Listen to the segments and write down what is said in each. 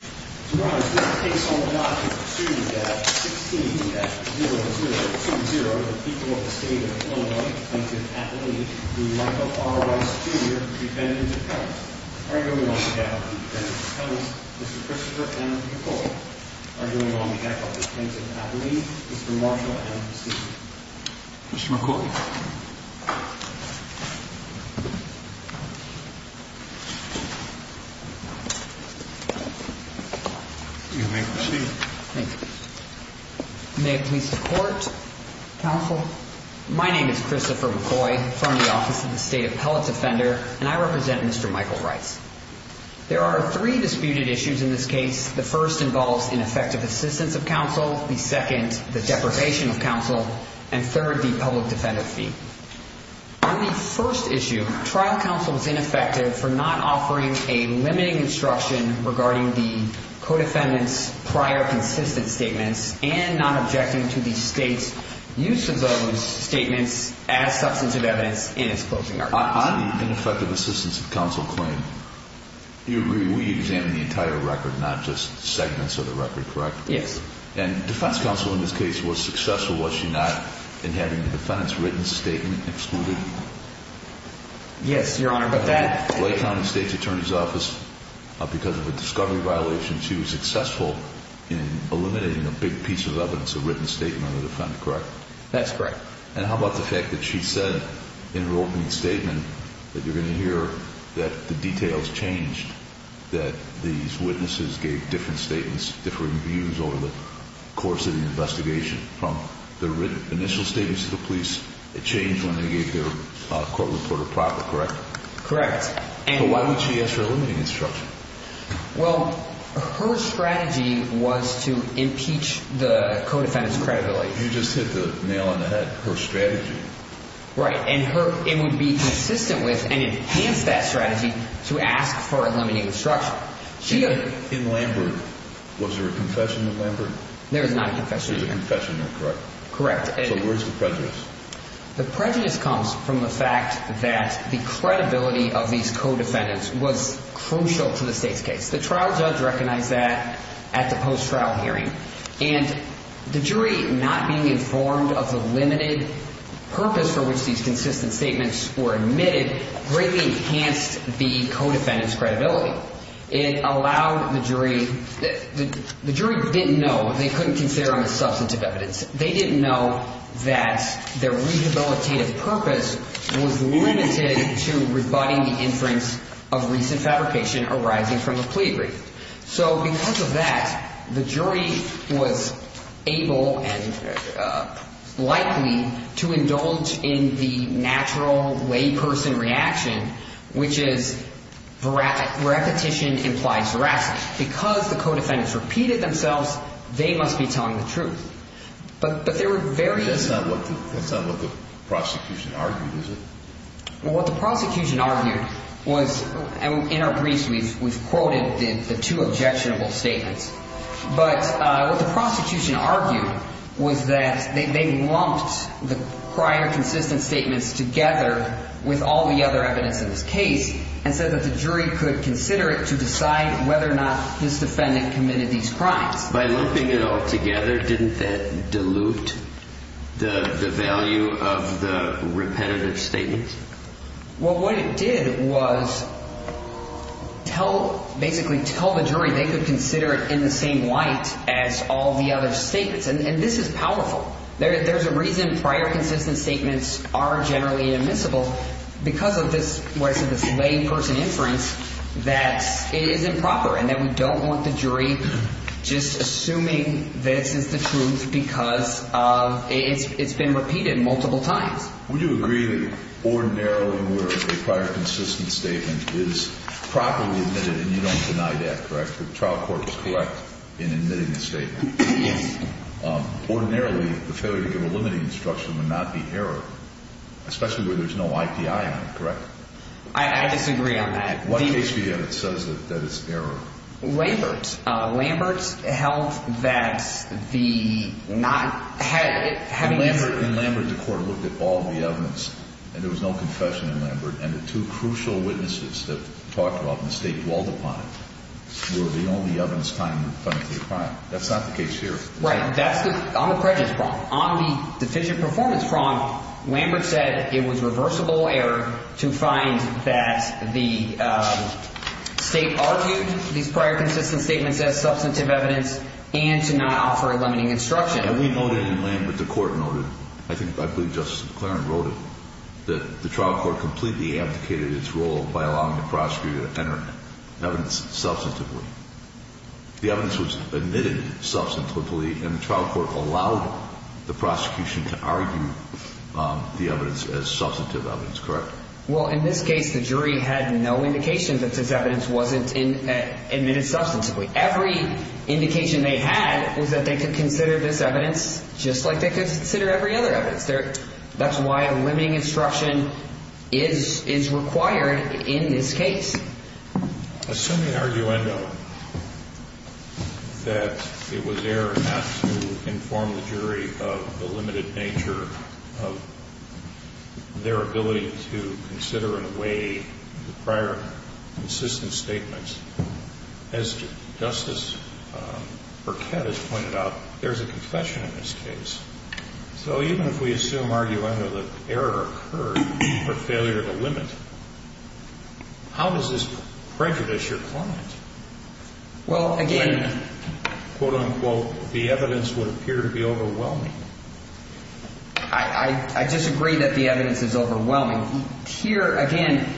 Mr. Rice, this case on the docket, proceeding at 16-0020, the people of the state of Illinois, plaintiff at lease, do Michael R. Rice, Jr., defendant of counts, arguing on behalf of the defendant of counts, Mr. Christopher M. McCoy, arguing on behalf of the plaintiff at lease, Mr. Marshall M. Steele. Mr. McCoy. You may proceed. Thank you. May it please the court. Counsel. My name is Christopher McCoy from the Office of the State Appellate Defender, and I represent Mr. Michael Rice. There are three disputed issues in this case. The first involves ineffective assistance of counsel. The second, the deprivation of counsel. And third, the public defender fee. On the first issue, trial counsel is ineffective for not offering a limiting instruction regarding the co-defendant's prior consistent statements and not objecting to the state's use of those statements as substantive evidence in its closing arguments. On the ineffective assistance of counsel claim, you agree we examine the entire record, not just segments of the record, correct? Yes. And defense counsel in this case was successful, was she not, in having the defendant's written statement excluded? Yes, Your Honor, but that The Lake County State's Attorney's Office, because of a discovery violation, she was successful in eliminating a big piece of evidence, a written statement on the defendant, correct? That's correct. And how about the fact that she said in her opening statement that you're going to hear that the details changed, that these witnesses gave different statements, different views over the course of the investigation? From the written initial statements to the police, it changed when they gave their court reporter proper, correct? Correct. But why would she ask for a limiting instruction? Well, her strategy was to impeach the co-defendant's credibility. You just hit the nail on the head, her strategy. Right, and it would be consistent with and enhance that strategy to ask for a limiting instruction. In Lambert, was there a confession in Lambert? There was not a confession in Lambert. There was a confession, correct? Correct. So where's the prejudice? The prejudice comes from the fact that the credibility of these co-defendants was crucial to the state's case. The trial judge recognized that at the post-trial hearing. And the jury not being informed of the limited purpose for which these consistent statements were admitted greatly enhanced the co-defendant's credibility. It allowed the jury – the jury didn't know. They couldn't consider them as substantive evidence. They didn't know that their rehabilitative purpose was limited to rebutting the inference of recent fabrication arising from a plea brief. So because of that, the jury was able and likely to indulge in the natural layperson reaction, which is repetition implies veracity. Because the co-defendants repeated themselves, they must be telling the truth. But there were various – That's not what the prosecution argued, is it? Well, what the prosecution argued was – and in our briefs we've quoted the two objectionable statements. But what the prosecution argued was that they lumped the prior consistent statements together with all the other evidence in this case and said that the jury could consider it to decide whether or not this defendant committed these crimes. By lumping it all together, didn't that dilute the value of the repetitive statements? Well, what it did was tell – basically tell the jury they could consider it in the same light as all the other statements. And this is powerful. There's a reason prior consistent statements are generally inadmissible because of this layperson inference that is improper and that we don't want the jury just assuming this is the truth because it's been repeated multiple times. Would you agree that ordinarily where a prior consistent statement is properly admitted – and you don't deny that, correct? The trial court was correct in admitting the statement. Yes. Ordinarily, the failure to give a limiting instruction would not be error, especially where there's no IPI on it, correct? I disagree on that. What case do you have that says that it's error? Lambert. Lambert held that the not – having – In Lambert, the court looked at all the evidence, and there was no confession in Lambert. And the two crucial witnesses that talked about the mistake dwelled upon it were the only evidence found to be a crime. That's not the case here. Right. That's the – on the prejudice problem. On the deficient performance problem, Lambert said it was reversible error to find that the State argued these prior consistent statements as substantive evidence and to not offer a limiting instruction. And we noted in Lambert, the court noted – I believe Justice McLaren wrote it – that the trial court completely abdicated its role by allowing the prosecutor to enter evidence substantively. The evidence was admitted substantively, and the trial court allowed the prosecution to argue the evidence as substantive evidence, correct? Well, in this case, the jury had no indication that this evidence wasn't admitted substantively. Every indication they had was that they could consider this evidence just like they could consider every other evidence. That's why a limiting instruction is required in this case. Assuming arguendo that it was error not to inform the jury of the limited nature of their ability to consider and weigh the prior consistent statements, as Justice Burkett has pointed out, there's a confession in this case. So even if we assume arguendo that error occurred for failure to limit, how does this prejudice your client? Well, again – When, quote-unquote, the evidence would appear to be overwhelming. I disagree that the evidence is overwhelming. Here, again,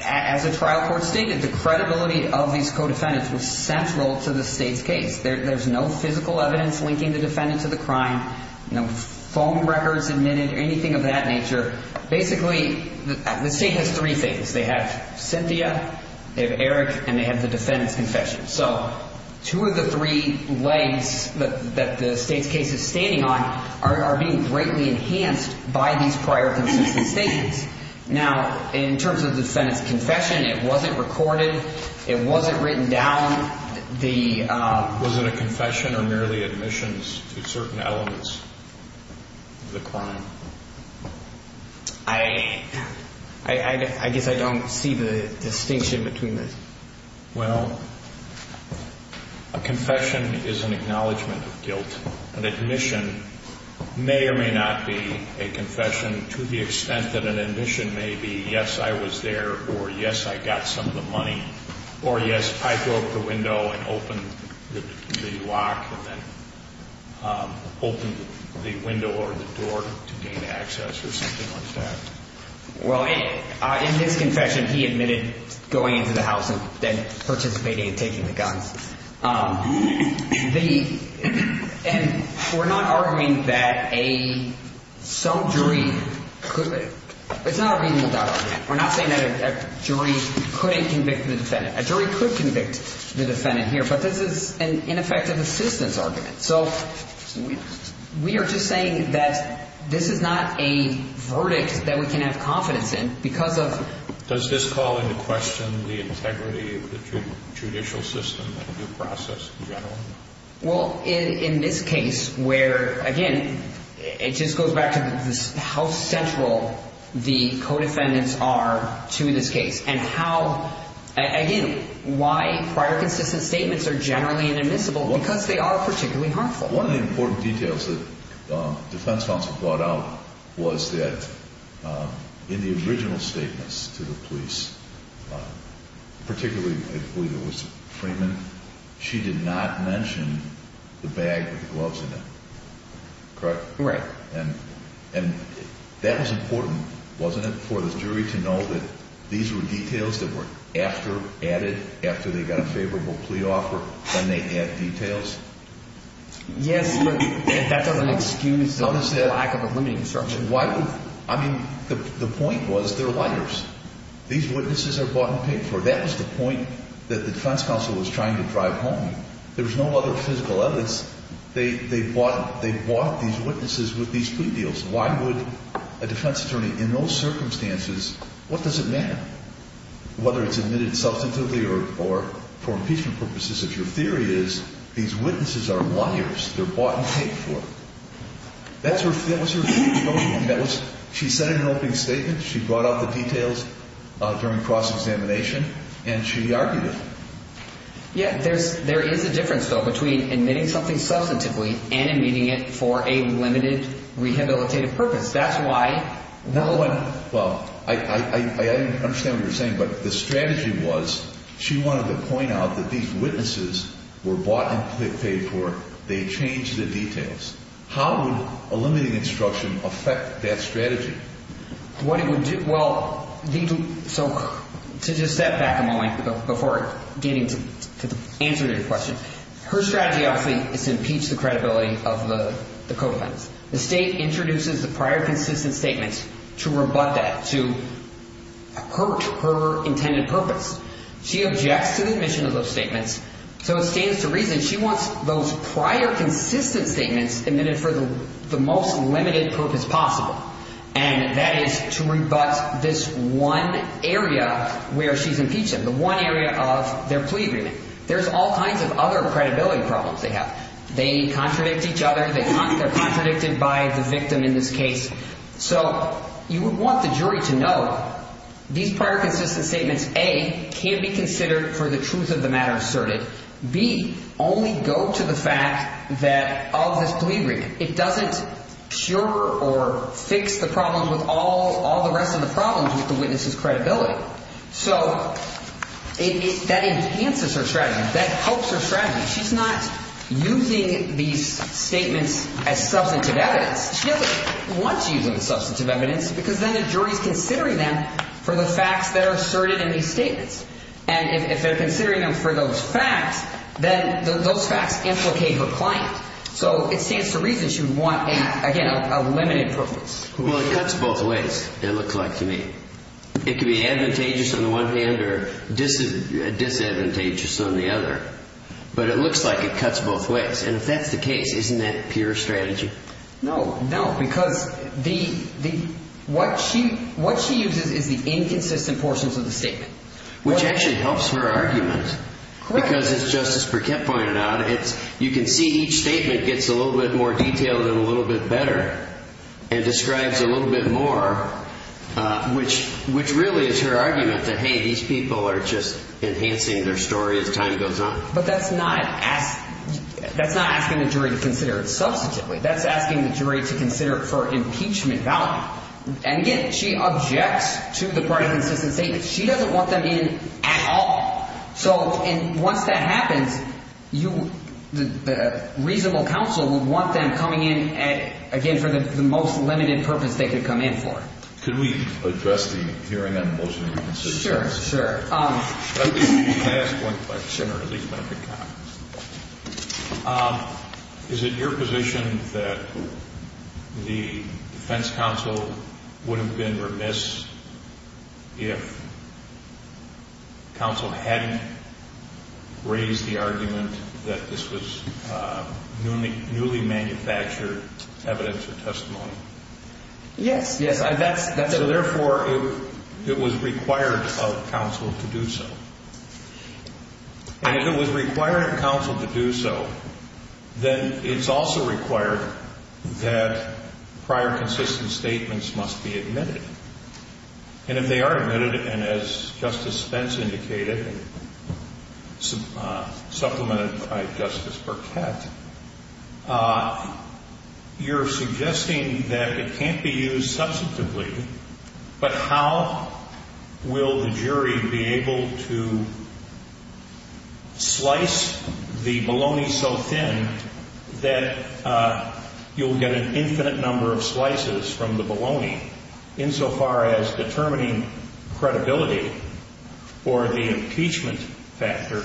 as the trial court stated, the credibility of these co-defendants was central to the State's case. There's no physical evidence linking the defendant to the crime, no phone records admitted, anything of that nature. Basically, the State has three things. They have Cynthia, they have Eric, and they have the defendant's confession. So two of the three legs that the State's case is standing on are being greatly enhanced by these prior consistent statements. Now, in terms of the defendant's confession, it wasn't recorded. It wasn't written down. Was it a confession or merely admissions to certain elements of the crime? I guess I don't see the distinction between those. Well, a confession is an acknowledgment of guilt. An admission may or may not be a confession to the extent that an admission may be, yes, I was there, or yes, I got some of the money, or yes, I broke the window and opened the lock and then opened the window or the door to gain access or something like that. Well, in this confession, he admitted going into the house and then participating in taking the guns. The ‑‑ and we're not arguing that a ‑‑ some jury could ‑‑ it's not a reasonable doubt argument. We're not saying that a jury couldn't convict the defendant. A jury could convict the defendant here, but this is an ineffective assistance argument. So we are just saying that this is not a verdict that we can have confidence in because of ‑‑ Does this call into question the integrity of the judicial system and your process in general? Well, in this case where, again, it just goes back to how central the co‑defendants are to this case and how, again, why prior consistent statements are generally inadmissible, because they are particularly harmful. One of the important details that defense counsel brought out was that in the original statements to the police, particularly I believe it was Freeman, she did not mention the bag with the gloves in it, correct? Correct. And that was important, wasn't it, for the jury to know that these were details that were after added, after they got a favorable plea offer, when they add details? Yes, but that doesn't excuse the lack of a limiting instruction. Why would ‑‑ I mean, the point was they're liars. These witnesses are bought and paid for. That was the point that the defense counsel was trying to drive home. There was no other physical evidence. They bought these witnesses with these plea deals. Why would a defense attorney in those circumstances, what does it matter? Whether it's admitted substantively or for impeachment purposes, if your theory is these witnesses are liars, they're bought and paid for. That was her statement. She said it in an opening statement. She brought out the details during cross‑examination, and she argued it. Yeah, there is a difference, though, between admitting something substantively and admitting it for a limited rehabilitative purpose. Well, I understand what you're saying. But the strategy was she wanted to point out that these witnesses were bought and paid for. They changed the details. How would a limiting instruction affect that strategy? What it would do, well, so to just step back a moment before getting to answer your question, her strategy obviously is to impeach the credibility of the co‑defendants. The state introduces the prior consistent statements to rebut that, to hurt her intended purpose. She objects to the admission of those statements. So it stands to reason she wants those prior consistent statements admitted for the most limited purpose possible, and that is to rebut this one area where she's impeached them, the one area of their plea agreement. There's all kinds of other credibility problems they have. They contradict each other. They're contradicted by the victim in this case. So you would want the jury to know these prior consistent statements, A, can be considered for the truth of the matter asserted. B, only go to the fact that of this plea agreement. It doesn't cure or fix the problems with all the rest of the problems with the witness's credibility. So that enhances her strategy. That helps her strategy. She's not using these statements as substantive evidence. She doesn't want to use them as substantive evidence because then the jury is considering them for the facts that are asserted in these statements. And if they're considering them for those facts, then those facts implicate her client. So it stands to reason she would want, again, a limited purpose. Well, it cuts both ways, it looks like to me. It could be advantageous on the one hand or disadvantageous on the other. But it looks like it cuts both ways. And if that's the case, isn't that pure strategy? No, no, because what she uses is the inconsistent portions of the statement. Which actually helps her argument. Correct. Because, as Justice Burkett pointed out, you can see each statement gets a little bit more detailed and a little bit better and describes a little bit more, which really is her argument that, hey, these people are just enhancing their story as time goes on. But that's not asking the jury to consider it substantively. That's asking the jury to consider it for impeachment value. And again, she objects to the part of the insistence statement. She doesn't want them in at all. So once that happens, the reasonable counsel would want them coming in, again, for the most limited purpose they could come in for. Could we address the hearing on the motion of innocence? Sure, sure. Can I ask one question or at least make a comment? Is it your position that the defense counsel wouldn't have been remiss if counsel hadn't raised the argument that this was newly manufactured evidence or testimony? Yes, yes. So therefore, it was required of counsel to do so. And if it was required of counsel to do so, then it's also required that prior consistent statements must be admitted. And if they are admitted, and as Justice Spence indicated, supplemented by Justice Burkett, you're suggesting that it can't be used substantively, but how will the jury be able to slice the bologna so thin that you'll get an infinite number of slices from the bologna insofar as determining credibility for the impeachment factor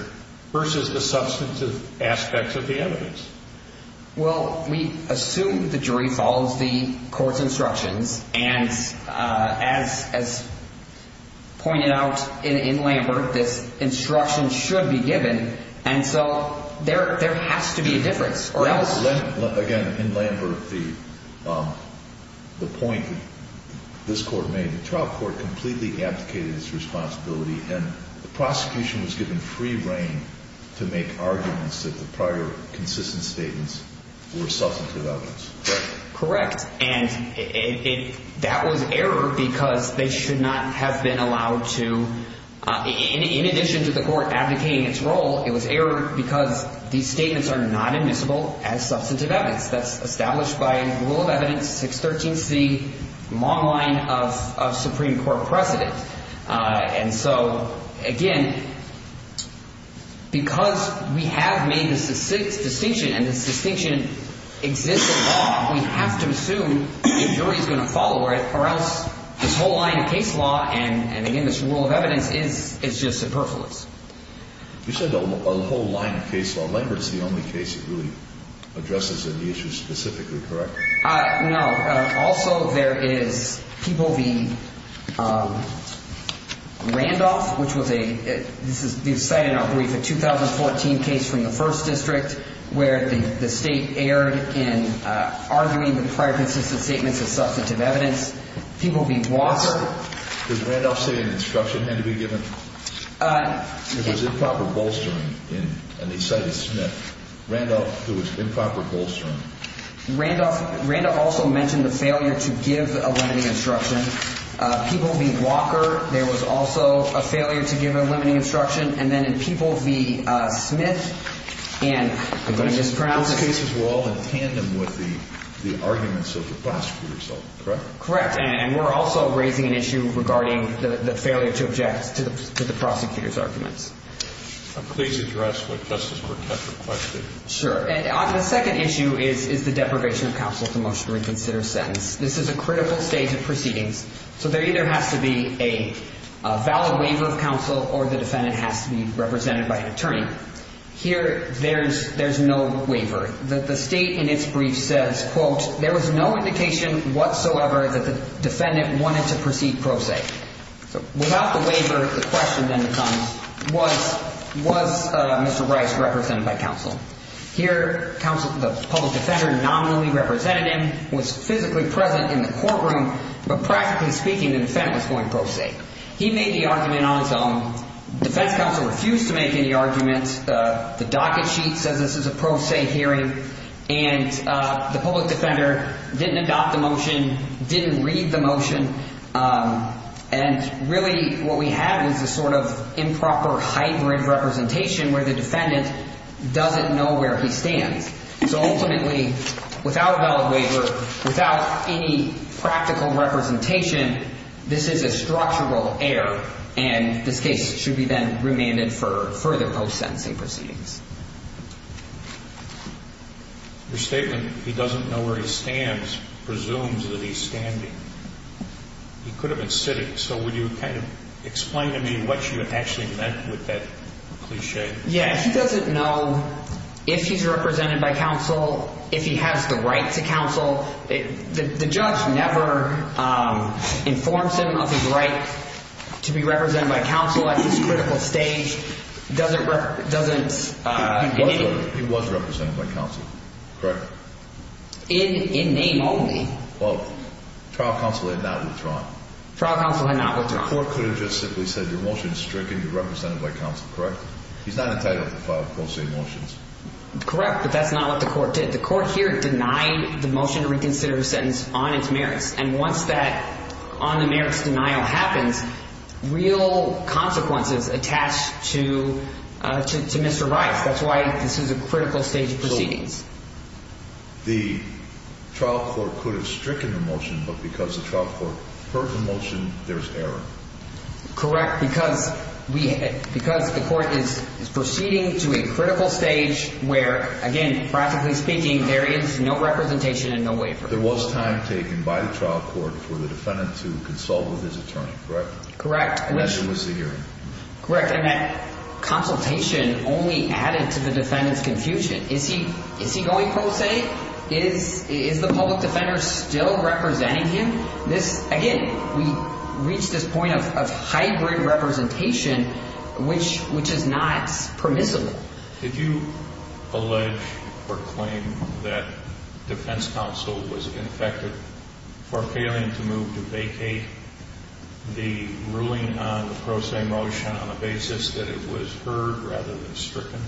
versus the substantive aspects of the evidence? Well, we assume the jury follows the court's instructions and as pointed out in Lambert, this instruction should be given. And so there has to be a difference or else. Again, in Lambert, the point that this court made, the trial court completely abdicated its responsibility and the prosecution was given free reign to make arguments that the prior consistent statements were substantive evidence. Correct. And that was error because they should not have been allowed to, in addition to the court abdicating its role, it was error because these statements are not admissible as substantive evidence. That's established by rule of evidence 613C, long line of Supreme Court precedent. And so, again, because we have made this distinction and this distinction exists in law, we have to assume the jury is going to follow it or else this whole line of case law and, again, this rule of evidence is just superfluous. You said a whole line of case law. Lambert is the only case that really addresses any issues specifically, correct? No. Also, there is Peabody Randolph, which was a – this is cited in our brief, a 2014 case from the 1st District where the State erred in arguing the prior consistent statements as substantive evidence. Peabody Walker. Did Randolph say an instruction had to be given? It was improper bolstering, and they cited Smith. Randolph, it was improper bolstering. Randolph also mentioned the failure to give a limiting instruction. Peabody Walker, there was also a failure to give a limiting instruction. And then in Peabody Smith, and I'm going to mispronounce it. These cases were all in tandem with the arguments of the prosecutors, correct? Correct. And we're also raising an issue regarding the failure to object to the prosecutor's arguments. Please address what Justice Burkett requested. Sure. The second issue is the deprivation of counsel to motion to reconsider a sentence. This is a critical stage of proceedings. So there either has to be a valid waiver of counsel or the defendant has to be represented by an attorney. Here, there's no waiver. The State in its brief says, quote, there was no indication whatsoever that the defendant wanted to proceed pro se. Without the waiver, the question then becomes, was Mr. Rice represented by counsel? Here, the public defender nominally represented him, was physically present in the courtroom, but practically speaking, the defendant was going pro se. He made the argument on his own. Defense counsel refused to make any arguments. The docket sheet says this is a pro se hearing, and the public defender didn't adopt the motion, didn't read the motion. And really what we have is this sort of improper hybrid representation where the defendant doesn't know where he stands. So ultimately, without a valid waiver, without any practical representation, this is a structural error, and this case should be then remanded for further post-sentencing proceedings. Your statement, he doesn't know where he stands, presumes that he's standing. He could have been sitting. So would you kind of explain to me what you actually meant with that cliche? Yeah, he doesn't know if he's represented by counsel, if he has the right to counsel. The judge never informs him of his right to be represented by counsel at this critical stage. He was represented by counsel, correct? In name only. Well, trial counsel had not withdrawn. Trial counsel had not withdrawn. The court could have just simply said your motion is stricken, you're represented by counsel, correct? He's not entitled to file pro se motions. Correct, but that's not what the court did. The court here denied the motion to reconsider a sentence on its merits, and once that on the merits denial happens, real consequences attach to Mr. Rice. That's why this is a critical stage of proceedings. The trial court could have stricken the motion, but because the trial court heard the motion, there's error. Correct, because the court is proceeding to a critical stage where, again, practically speaking, there is no representation and no waiver. There was time taken by the trial court for the defendant to consult with his attorney, correct? Correct. And that was the hearing. Correct, and that consultation only added to the defendant's confusion. Is he going pro se? Is the public defender still representing him? Again, we reach this point of hybrid representation, which is not permissible. Did you allege or claim that defense counsel was infected for failing to move to vacate the ruling on the pro se motion on the basis that it was heard rather than stricken?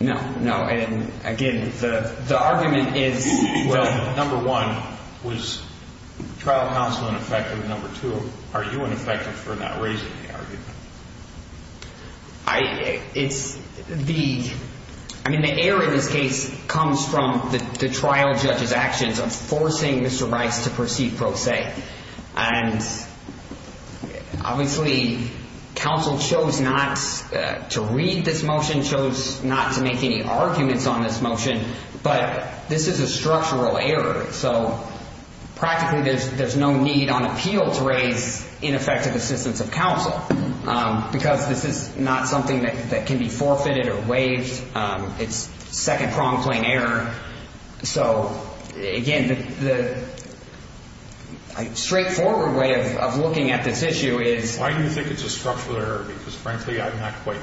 No, no. And again, the argument is, well, number one, was trial counsel ineffective? Number two, are you ineffective for not raising the argument? I mean, the error in this case comes from the trial judge's actions of forcing Mr. Rice to proceed pro se. And obviously, counsel chose not to read this motion, chose not to make any arguments on this motion, but this is a structural error. So practically, there's no need on appeal to raise ineffective assistance of counsel, because this is not something that can be forfeited or waived. It's second-pronged plain error. So again, the straightforward way of looking at this issue is... Why do you think it's a structural error? Because frankly, I'm not quite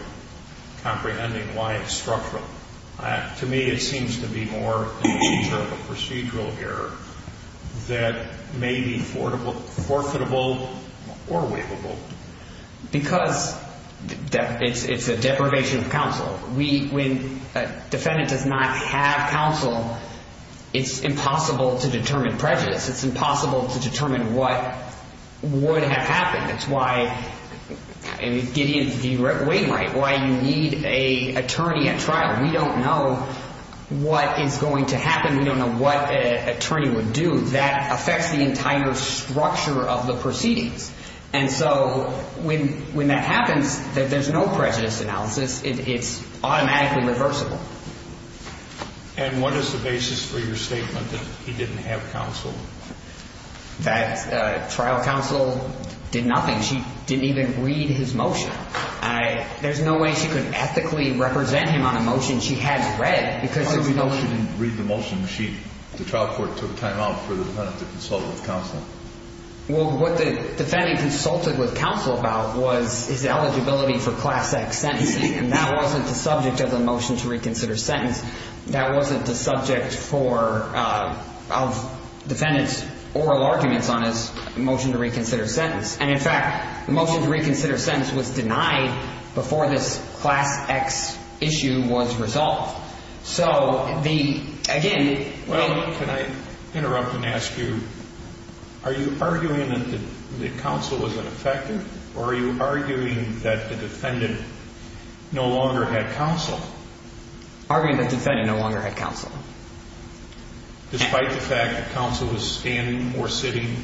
comprehending why it's structural. To me, it seems to be more in the future of a procedural error that may be forfeitable or waivable. Because it's a deprivation of counsel. When a defendant does not have counsel, it's impossible to determine prejudice. It's impossible to determine what would have happened. That's why Gideon's view went way right, why you need an attorney at trial. We don't know what is going to happen. We don't know what an attorney would do. That affects the entire structure of the proceedings. And so when that happens, there's no prejudice analysis. It's automatically reversible. And what is the basis for your statement that he didn't have counsel? That trial counsel did nothing. She didn't even read his motion. There's no way she could ethically represent him on a motion she has read, because there's no... How do you know she didn't read the motion? The trial court took time out for the defendant to consult with counsel? Well, what the defendant consulted with counsel about was his eligibility for Class X sentencing. And that wasn't the subject of the motion to reconsider sentence. That wasn't the subject of the defendant's oral arguments on his motion to reconsider sentence. And, in fact, the motion to reconsider sentence was denied before this Class X issue was resolved. So, again... Well, can I interrupt and ask you, are you arguing that the counsel was ineffective? Or are you arguing that the defendant no longer had counsel? Arguing that the defendant no longer had counsel. Despite the fact that counsel was standing or sitting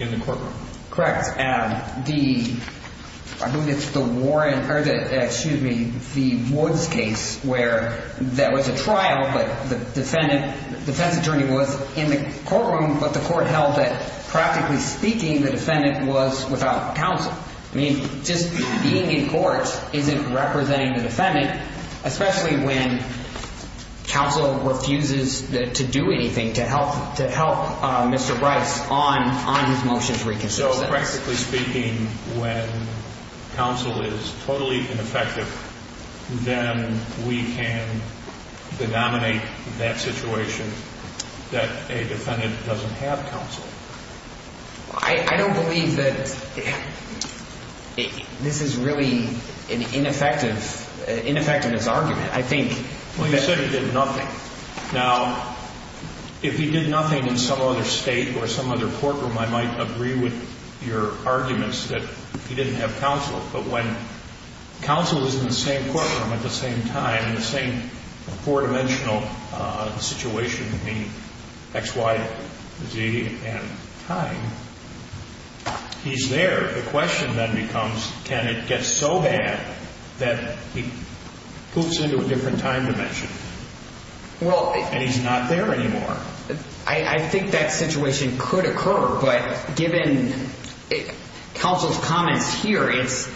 in the courtroom? Correct. I believe it's the Warren or the, excuse me, the Woods case where there was a trial, but the defendant, the defense attorney was in the courtroom, but the court held that, practically speaking, the defendant was without counsel. I mean, just being in court isn't representing the defendant, especially when counsel refuses to do anything to help Mr. Bryce on his motion to reconsider sentence. But, practically speaking, when counsel is totally ineffective, then we can denominate that situation that a defendant doesn't have counsel. I don't believe that this is really an ineffective, ineffective as argument. I think... Well, you said he did nothing. Now, if he did nothing in some other state or some other courtroom, I might agree with your arguments that he didn't have counsel. But when counsel is in the same courtroom at the same time, in the same four-dimensional situation between X, Y, Z, and time, he's there. The question then becomes, can it get so bad that he hoops into a different time dimension and he's not there anymore? I think that situation could occur, but given counsel's comments here, she's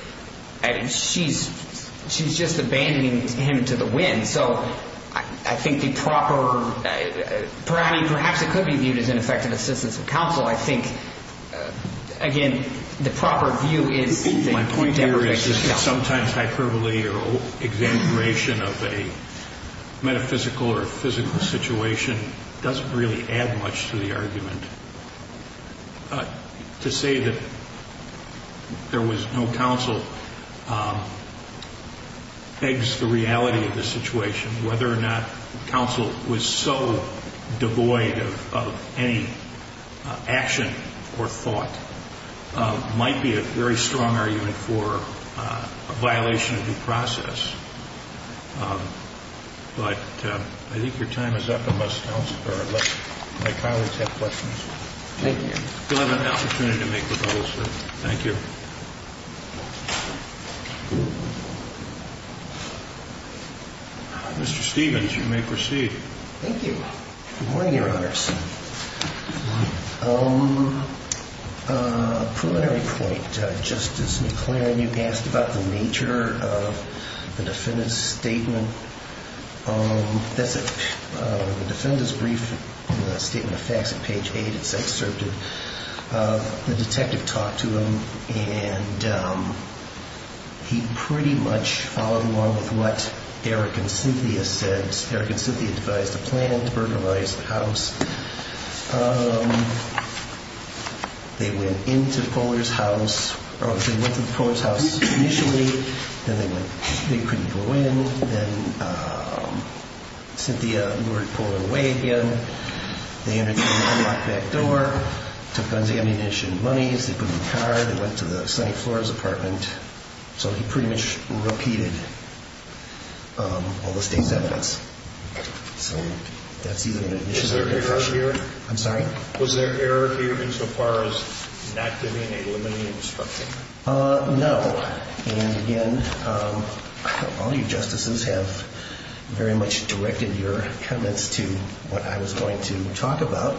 just abandoning him to the wind. So I think the proper, perhaps it could be viewed as ineffective assistance of counsel. I think, again, the proper view is that he never gets counsel. My point here is that sometimes hyperbole or exaggeration of a metaphysical or physical situation doesn't really add much to the argument. To say that there was no counsel begs the reality of the situation, and whether or not counsel was so devoid of any action or thought might be a very strong argument for a violation of due process. But I think your time is up unless my colleagues have questions. Thank you. You'll have an opportunity to make rebuttals, sir. Thank you. Mr. Stevens, you may proceed. Thank you. Good morning, Your Honors. Preliminary point, Justice McClaren, you've asked about the nature of the defendant's statement. That's it. The defendant's brief, the statement of facts at page 8, it's excerpted. The detective talked to him, and he pretty much followed along with what Eric and Cynthia said. Eric and Cynthia devised a plan to burglarize the house. They went into Poehler's house, or they went to Poehler's house initially, then they couldn't go in. Then Cynthia lured Poehler away again. They entered through an unlocked back door, took guns, ammunition, monies. They put them in a car. They went to the sunny floor of his apartment. So they pretty much repeated all the state's evidence. So that's either an admission or a conviction. Was there error here insofar as not giving a limiting instruction? No. And again, all you justices have very much directed your comments to what I was going to talk about.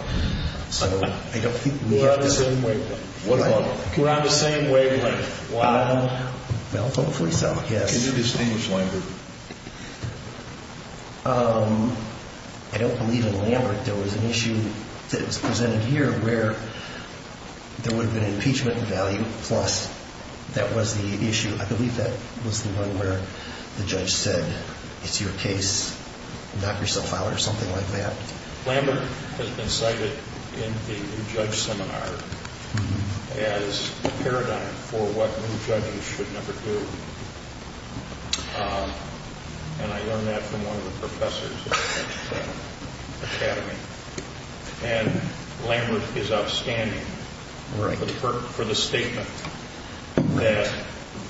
We're on the same wavelength. What about? We're on the same wavelength. Well, hopefully so, yes. Can you distinguish Lambert? I don't believe in Lambert. There was an issue that was presented here where there would have been impeachment value, plus that was the issue. I believe that was the one where the judge said, it's your case, knock yourself out or something like that. Lambert has been cited in the new judge seminar as a paradigm for what new judges should never do. And I learned that from one of the professors at the academy. And Lambert is outstanding for the statement that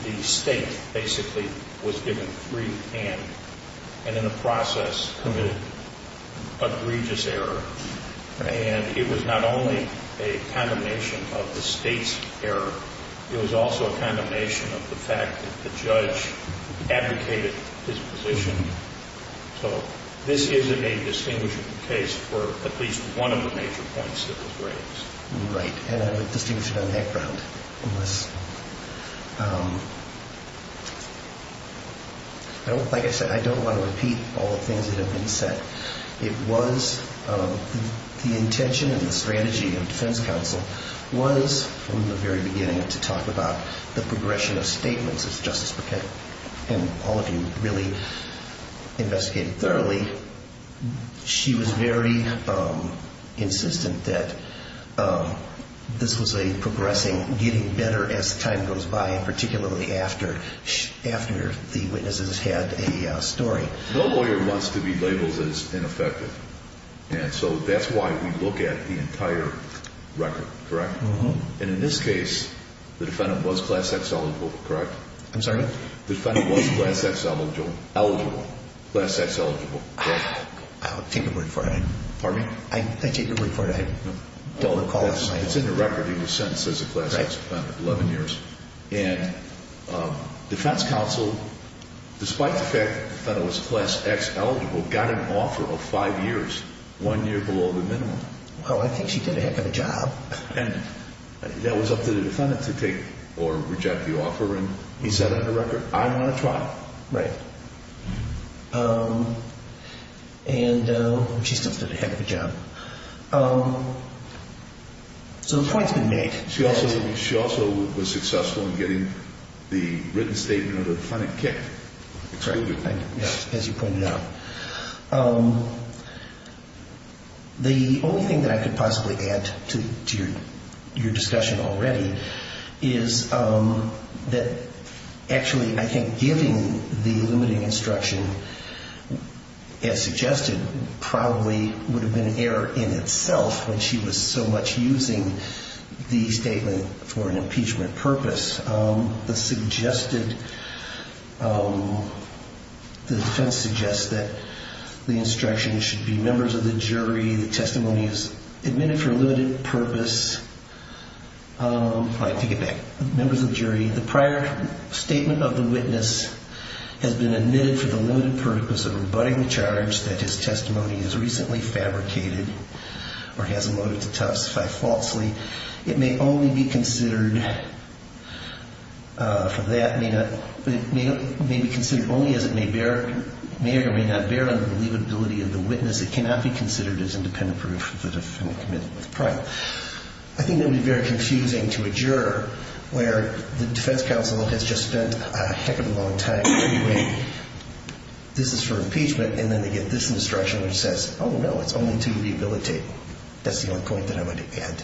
the state basically was given free hand and in the process committed egregious error. And it was not only a condemnation of the state's error. It was also a condemnation of the fact that the judge advocated his position. So this isn't a distinguishing case for at least one of the major points that was raised. Right. And I would distinguish it on that ground. Like I said, I don't want to repeat all the things that have been said. But it was the intention and the strategy of defense counsel was from the very beginning to talk about the progression of statements. It's justice. And all of you really investigated thoroughly. She was very insistent that this was a progressing, getting better as time goes by. And particularly after after the witnesses had a story. No lawyer wants to be labeled as ineffective. And so that's why we look at the entire record. Correct. And in this case, the defendant was class X eligible. Correct. I'm sorry. The defendant was class X eligible. Class X eligible. I'll take the word for it. Pardon me. I take the word for it. I don't recall. It's in the record. He was sentenced as a class X defendant. 11 years. And defense counsel, despite the fact that the defendant was class X eligible, got an offer of five years, one year below the minimum. Well, I think she did a heck of a job. And that was up to the defendant to take or reject the offer. And he said on the record, I want to try. Right. And she still did a heck of a job. So the point's been made. She also was successful in getting the written statement of the defendant kicked. Correct. As you pointed out. The only thing that I could possibly add to your discussion already is that actually I think giving the limiting instruction, as suggested, probably would have been an error in itself when she was so much using the statement for an impeachment purpose. The suggested, the defense suggests that the instruction should be members of the jury. The testimony is admitted for a limited purpose. I take it back. Members of the jury. The prior statement of the witness has been admitted for the limited purpose of rebutting the charge that his testimony is recently fabricated or has emoted to testify falsely. It may only be considered for that. It may be considered only as it may or may not bear on the believability of the witness. It cannot be considered as independent proof of the defendant committed with pride. I think it would be very confusing to a juror where the defense counsel has just spent a heck of a long time arguing this is for impeachment, and then they get this instruction which says, oh, no, it's only to rehabilitate. That's the only point that I would add.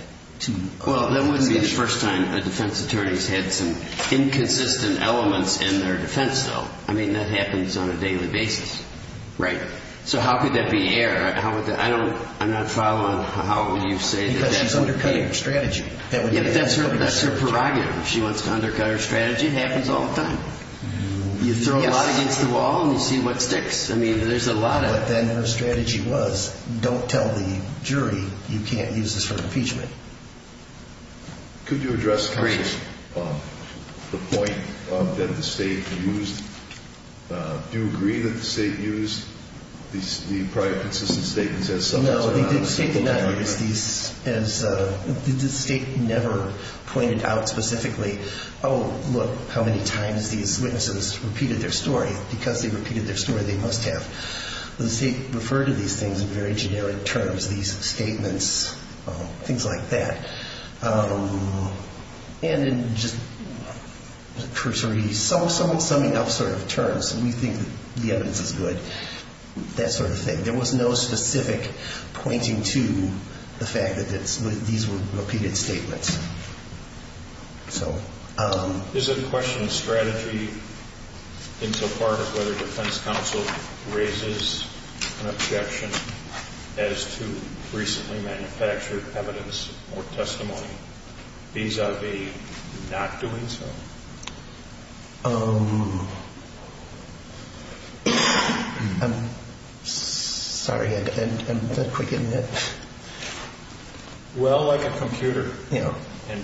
Well, that would be the first time a defense attorney's had some inconsistent elements in their defense, though. I mean, that happens on a daily basis. Right. So how could that be error? I'm not following how you say that. Because she's undercutting her strategy. That's her prerogative. If she wants to undercut her strategy, it happens all the time. You throw a lot against the wall and you see what sticks. I mean, there's a lot of it. But then her strategy was don't tell the jury you can't use this for impeachment. Could you address briefly the point that the state used? Do you agree that the state used the prior consistent statements as summaries? No, the state did not use these. The state never pointed out specifically, oh, look, how many times these witnesses repeated their story. Because they repeated their story, they must have. The state referred to these things in very generic terms, these statements, things like that. And in just cursory summing up sort of terms, we think the evidence is good, that sort of thing. There was no specific pointing to the fact that these were repeated statements. Is it a question of strategy insofar as whether defense counsel raises an objection as to recently manufactured evidence or testimony vis-a-vis not doing so? I'm sorry, I'm not quick in that.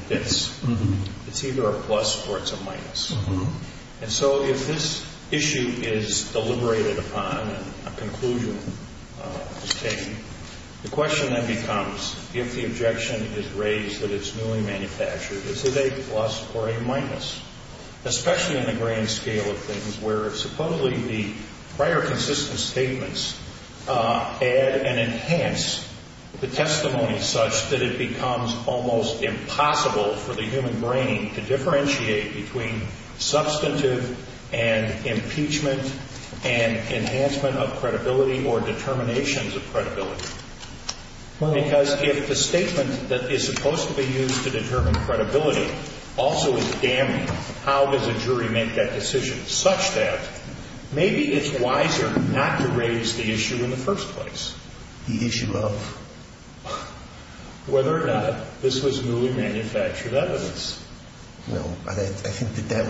It's either a plus or it's a minus. And so if this issue is deliberated upon and a conclusion is taken, the question then becomes if the objection is raised that it's newly manufactured, is it a plus or a minus? Especially in the grand scale of things where supposedly the prior consistent statements add and enhance the testimony such that it becomes almost impossible for the human brain to differentiate between substantive and impeachment and enhancement of credibility or determinations of credibility. Because if the statement that is supposed to be used to determine credibility also is damning, how does a jury make that decision such that maybe it's wiser not to raise the issue in the first place? The issue of? Whether or not this was newly manufactured evidence. I think that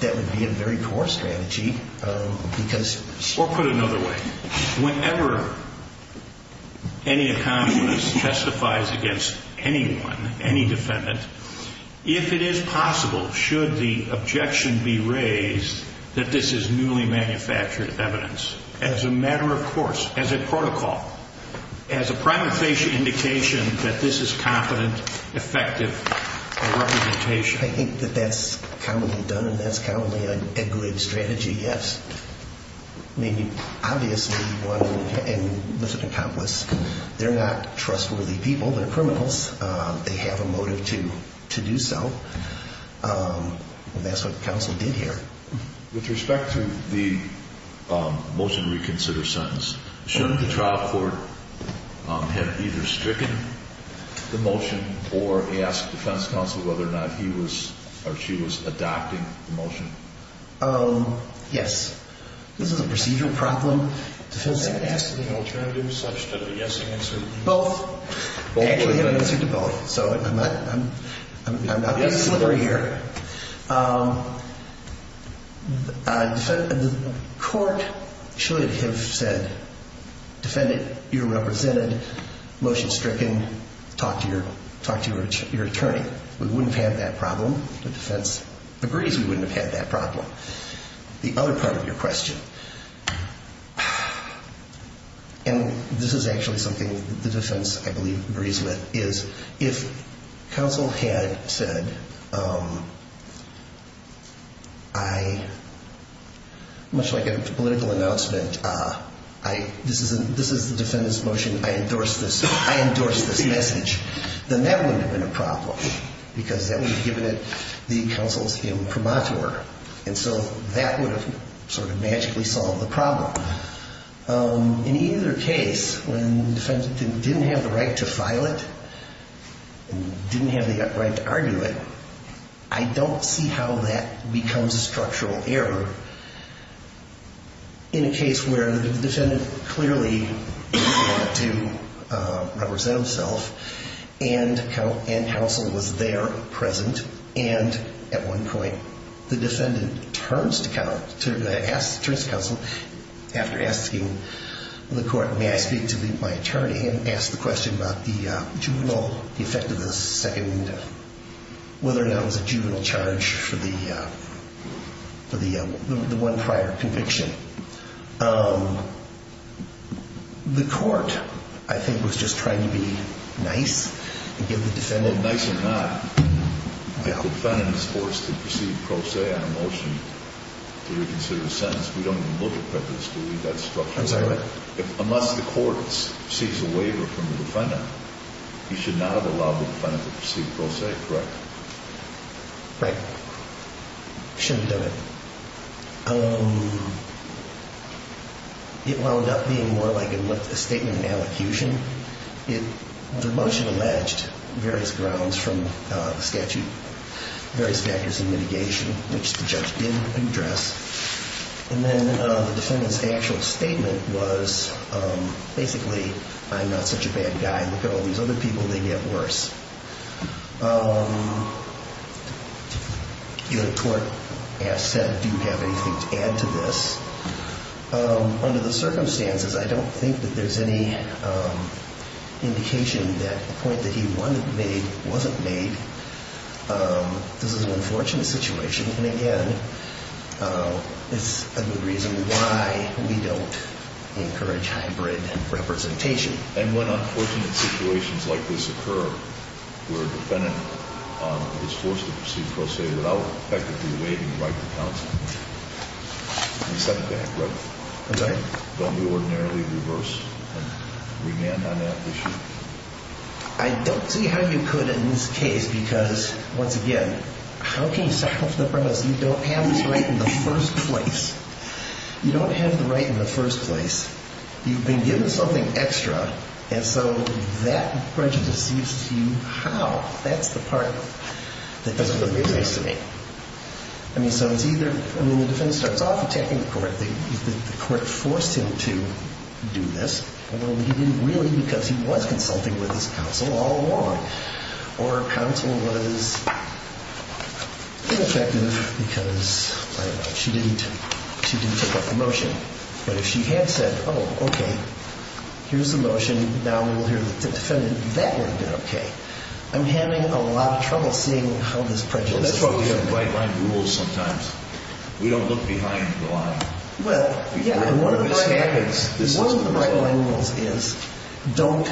that would be a very poor strategy. Or put another way, whenever any accomplice testifies against anyone, any defendant, if it is possible, should the objection be raised that this is newly manufactured evidence, as a matter of course, as a protocol, as a prime indication that this is competent, effective, and representative evidence, I think that that's commonly done, and that's commonly a good strategy, yes. I mean, obviously, one, and this is an accomplice, they're not trustworthy people, they're criminals. They have a motive to do so. And that's what the counsel did here. With respect to the motion reconsider sentence, shouldn't the trial court have either stricken the motion or asked defense counsel whether or not he was or she was adopting the motion? Yes. This is a procedural problem. Defensive alternative such that a yes answer. Both. Actually have an answer to both. So I'm not being slippery here. The court should have said, defendant, you're represented, motion stricken, talk to your attorney. We wouldn't have had that problem. The defense agrees we wouldn't have had that problem. The other part of your question. And this is actually something the defense, I believe, agrees with, is if counsel had said I, much like a political announcement, this is the defendant's motion, I endorse this message, then that wouldn't have been a problem. Because that would have given it the counsel's imprimatur. And so that would have sort of magically solved the problem. In either case, when the defendant didn't have the right to file it, didn't have the right to argue it, I don't see how that becomes a structural error. In a case where the defendant clearly had to represent himself and counsel was there, present, and at one point the defendant turns to counsel after asking the court, may I speak to my attorney and ask the question about the juvenile, the effect of the second, whether or not it was a juvenile charge for the defendant. The one prior conviction. The court, I think, was just trying to be nice and give the defendant. Nice or not, if the defendant is forced to proceed pro se on a motion to reconsider the sentence, we don't even look at prejudice, do we? That's structural. I'm sorry, what? Unless the court sees a waiver from the defendant, you should not have allowed the defendant to proceed pro se, correct? Right. Shouldn't have done it. It wound up being more like a statement and allecution. The motion alleged various grounds from the statute, various factors in mitigation, which the judge didn't address. And then the defendant's actual statement was, basically, I'm not such a bad guy. Look at all these other people. They get worse. The court said, do you have anything to add to this? Under the circumstances, I don't think that there's any indication that the point that he wanted made wasn't made. This is an unfortunate situation. And, again, it's a good reason why we don't encourage hybrid representation. And when unfortunate situations like this occur, where a defendant is forced to proceed pro se without effectively waiving the right to counsel, we set it back, right? I'm sorry? Don't we ordinarily reverse and remand on that issue? I don't see how you could in this case, because, once again, how can you set off the premise you don't have this right in the first place? You don't have the right in the first place. You've been given something extra. And so that prejudice seems to you, how? That's the part that doesn't make sense to me. I mean, so it's either the defense starts off attacking the court, the court forced him to do this. Well, he didn't really, because he was consulting with his counsel all along. Or counsel was ineffective because she didn't take up the motion. But if she had said, oh, okay, here's the motion, now we will hear the defendant, that would have been okay. I'm having a lot of trouble seeing how this prejudice is working. Well, that's why we have right-line rules sometimes. We don't look behind the line. One of the right-line rules is don't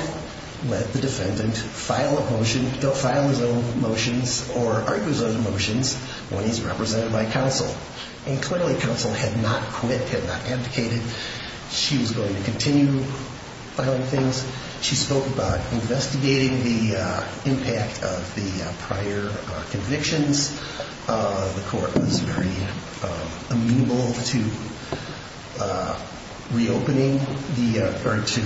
let the defendant file a motion, don't file his own motions or argue his own motions when he's represented by counsel. And clearly counsel had not quit, had not abdicated. She was going to continue filing things. She spoke about investigating the impact of the prior convictions. The court was very amenable to reopening or to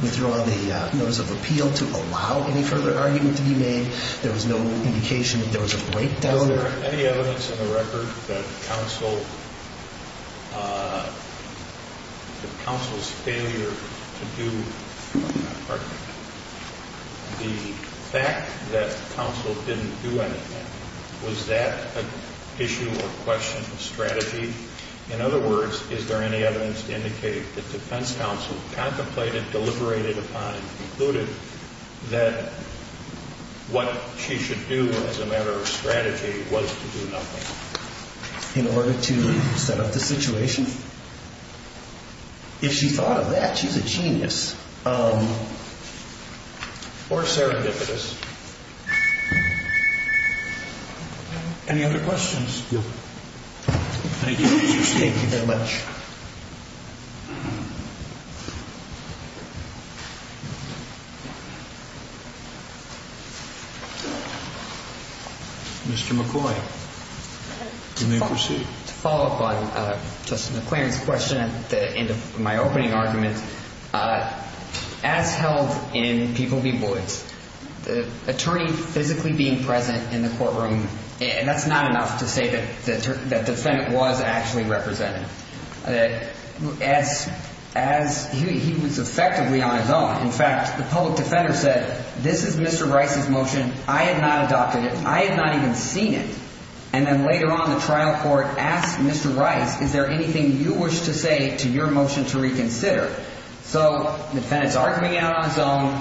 withdraw the notice of appeal, to allow any further argument to be made. There was no indication that there was a breakdown. Is there any evidence in the record that counsel's failure to do the argument, the fact that counsel didn't do anything, was that an issue or question of strategy? In other words, is there any evidence to indicate that defense counsel contemplated, deliberated upon and concluded that what she should do as a matter of strategy was to do nothing? In order to set up the situation? If she thought of that, she's a genius. Or serendipitous. Any other questions? Thank you very much. Mr. McCoy, you may proceed. To follow up on Justice McClain's question at the end of my opening argument, as held in People v. Woods, the attorney physically being present in the courtroom, that's not enough to say that the defendant was actually represented. He was effectively on his own. In fact, the public defender said, this is Mr. Rice's motion. I have not adopted it. I have not even seen it. And then later on, the trial court asked Mr. Rice, is there anything you wish to say to your motion to reconsider? So the defendants are coming out on his own.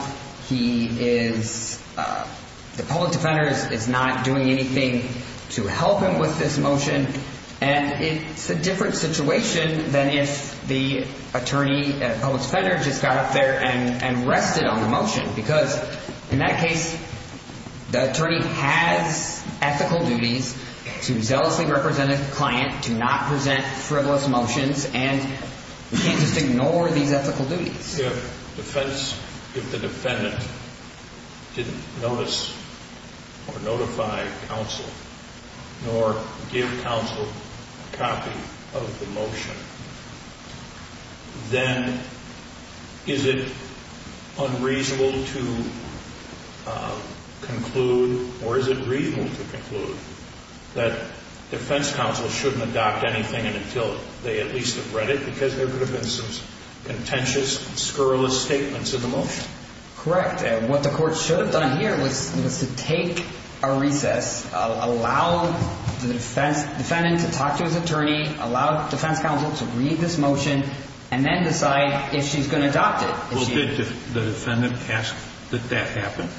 The public defender is not doing anything to help him with this motion. And it's a different situation than if the public defender just got up there and rested on the motion. Because in that case, the attorney has ethical duties to zealously represent a client, to not present frivolous motions, and we can't just ignore these ethical duties. If the defendant didn't notice or notify counsel nor give counsel a copy of the motion, then is it unreasonable to conclude, or is it reasonable to conclude, that defense counsel shouldn't adopt anything until they at least have read it? Because there could have been some contentious, scurrilous statements in the motion. Correct. What the court should have done here was to take a recess, allow the defendant to talk to his attorney, allow defense counsel to read this motion, and then decide if she's going to adopt it. Well, did the defendant ask that that happen?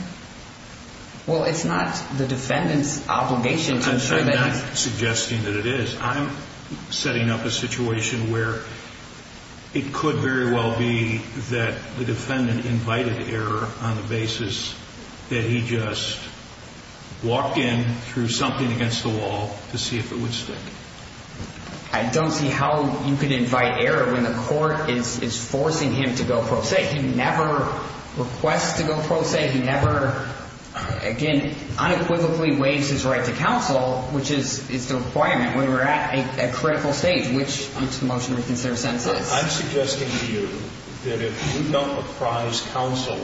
Well, it's not the defendant's obligation to ensure that it's... I'm not suggesting that it is. I'm setting up a situation where it could very well be that the defendant invited error on the basis that he just walked in through something against the wall to see if it would stick. I don't see how you could invite error when the court is forcing him to go pro se. He never requests to go pro se. He never, again, unequivocally waives his right to counsel, which is the requirement when we're at a critical stage, which each motion we consider sentences. I'm suggesting to you that if you don't apprise counsel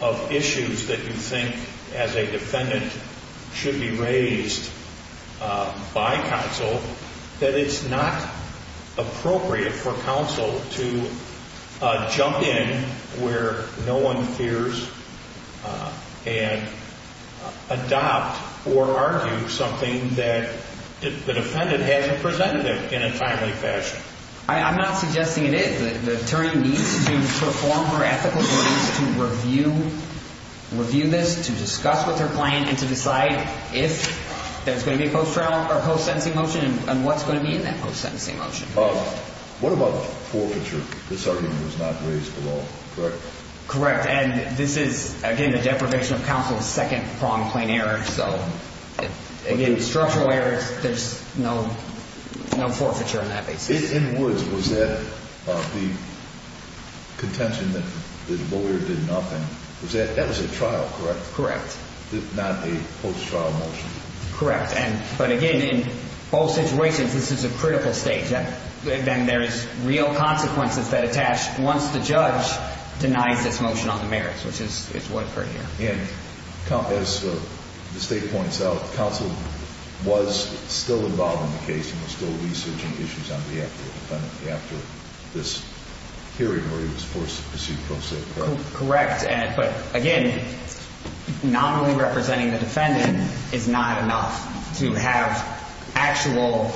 of issues that you think, as a defendant, should be raised by counsel, that it's not appropriate for counsel to jump in where no one fears and adopt or argue something that the defendant hasn't presented in a timely fashion. I'm not suggesting it is. The attorney needs to perform her ethical duties to review this, to discuss with her client, and to decide if there's going to be a post-trial or post-sentencing motion and what's going to be in that post-sentencing motion. What about forfeiture? This argument was not raised at all, correct? Correct. And this is, again, the deprivation of counsel's second-pronged plain error. Again, structural errors, there's no forfeiture on that basis. In Woods, was that the contention that the lawyer did nothing? That was a trial, correct? Correct. Not a post-trial motion? Correct. But, again, in both situations, this is a critical stage. Then there is real consequences that attach once the judge denies this motion on the merits, which is what occurred here. And, as the State points out, counsel was still involved in the case and was still researching issues on behalf of the defendant after this hearing where he was forced to pursue pro se, correct? Correct. But, again, not only representing the defendant is not enough to have actual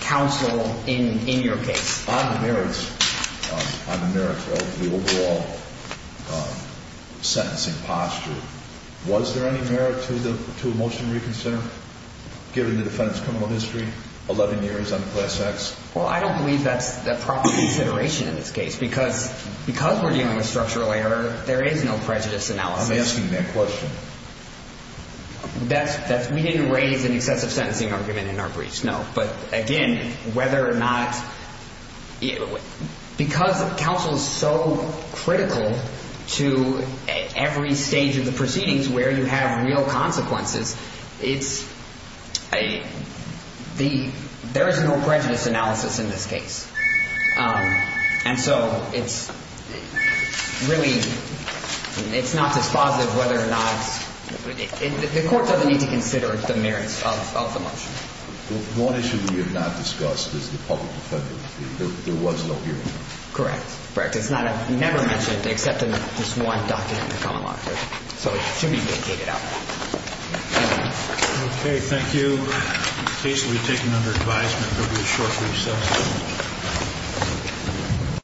counsel in your case. On the merits, on the merits of the overall sentencing posture, was there any merit to a motion reconsidered given the defendant's criminal history, 11 years on class X? Well, I don't believe that's a proper consideration in this case because we're dealing with structural error, there is no prejudice analysis. I'm asking that question. We didn't raise an excessive sentencing argument in our breach, no. But, again, whether or not – because counsel is so critical to every stage of the proceedings where you have real consequences, it's a – there is no prejudice analysis in this case. And so it's really – it's not dispositive whether or not – the court doesn't need to consider the merits of the motion. One issue we have not discussed is the public defender. There was no hearing. Correct. Correct. It's not a – we never mentioned it except in this one document that come along here. So it should be vindicated out there. Okay. Thank you. The case will be taken under advisement over a short recess.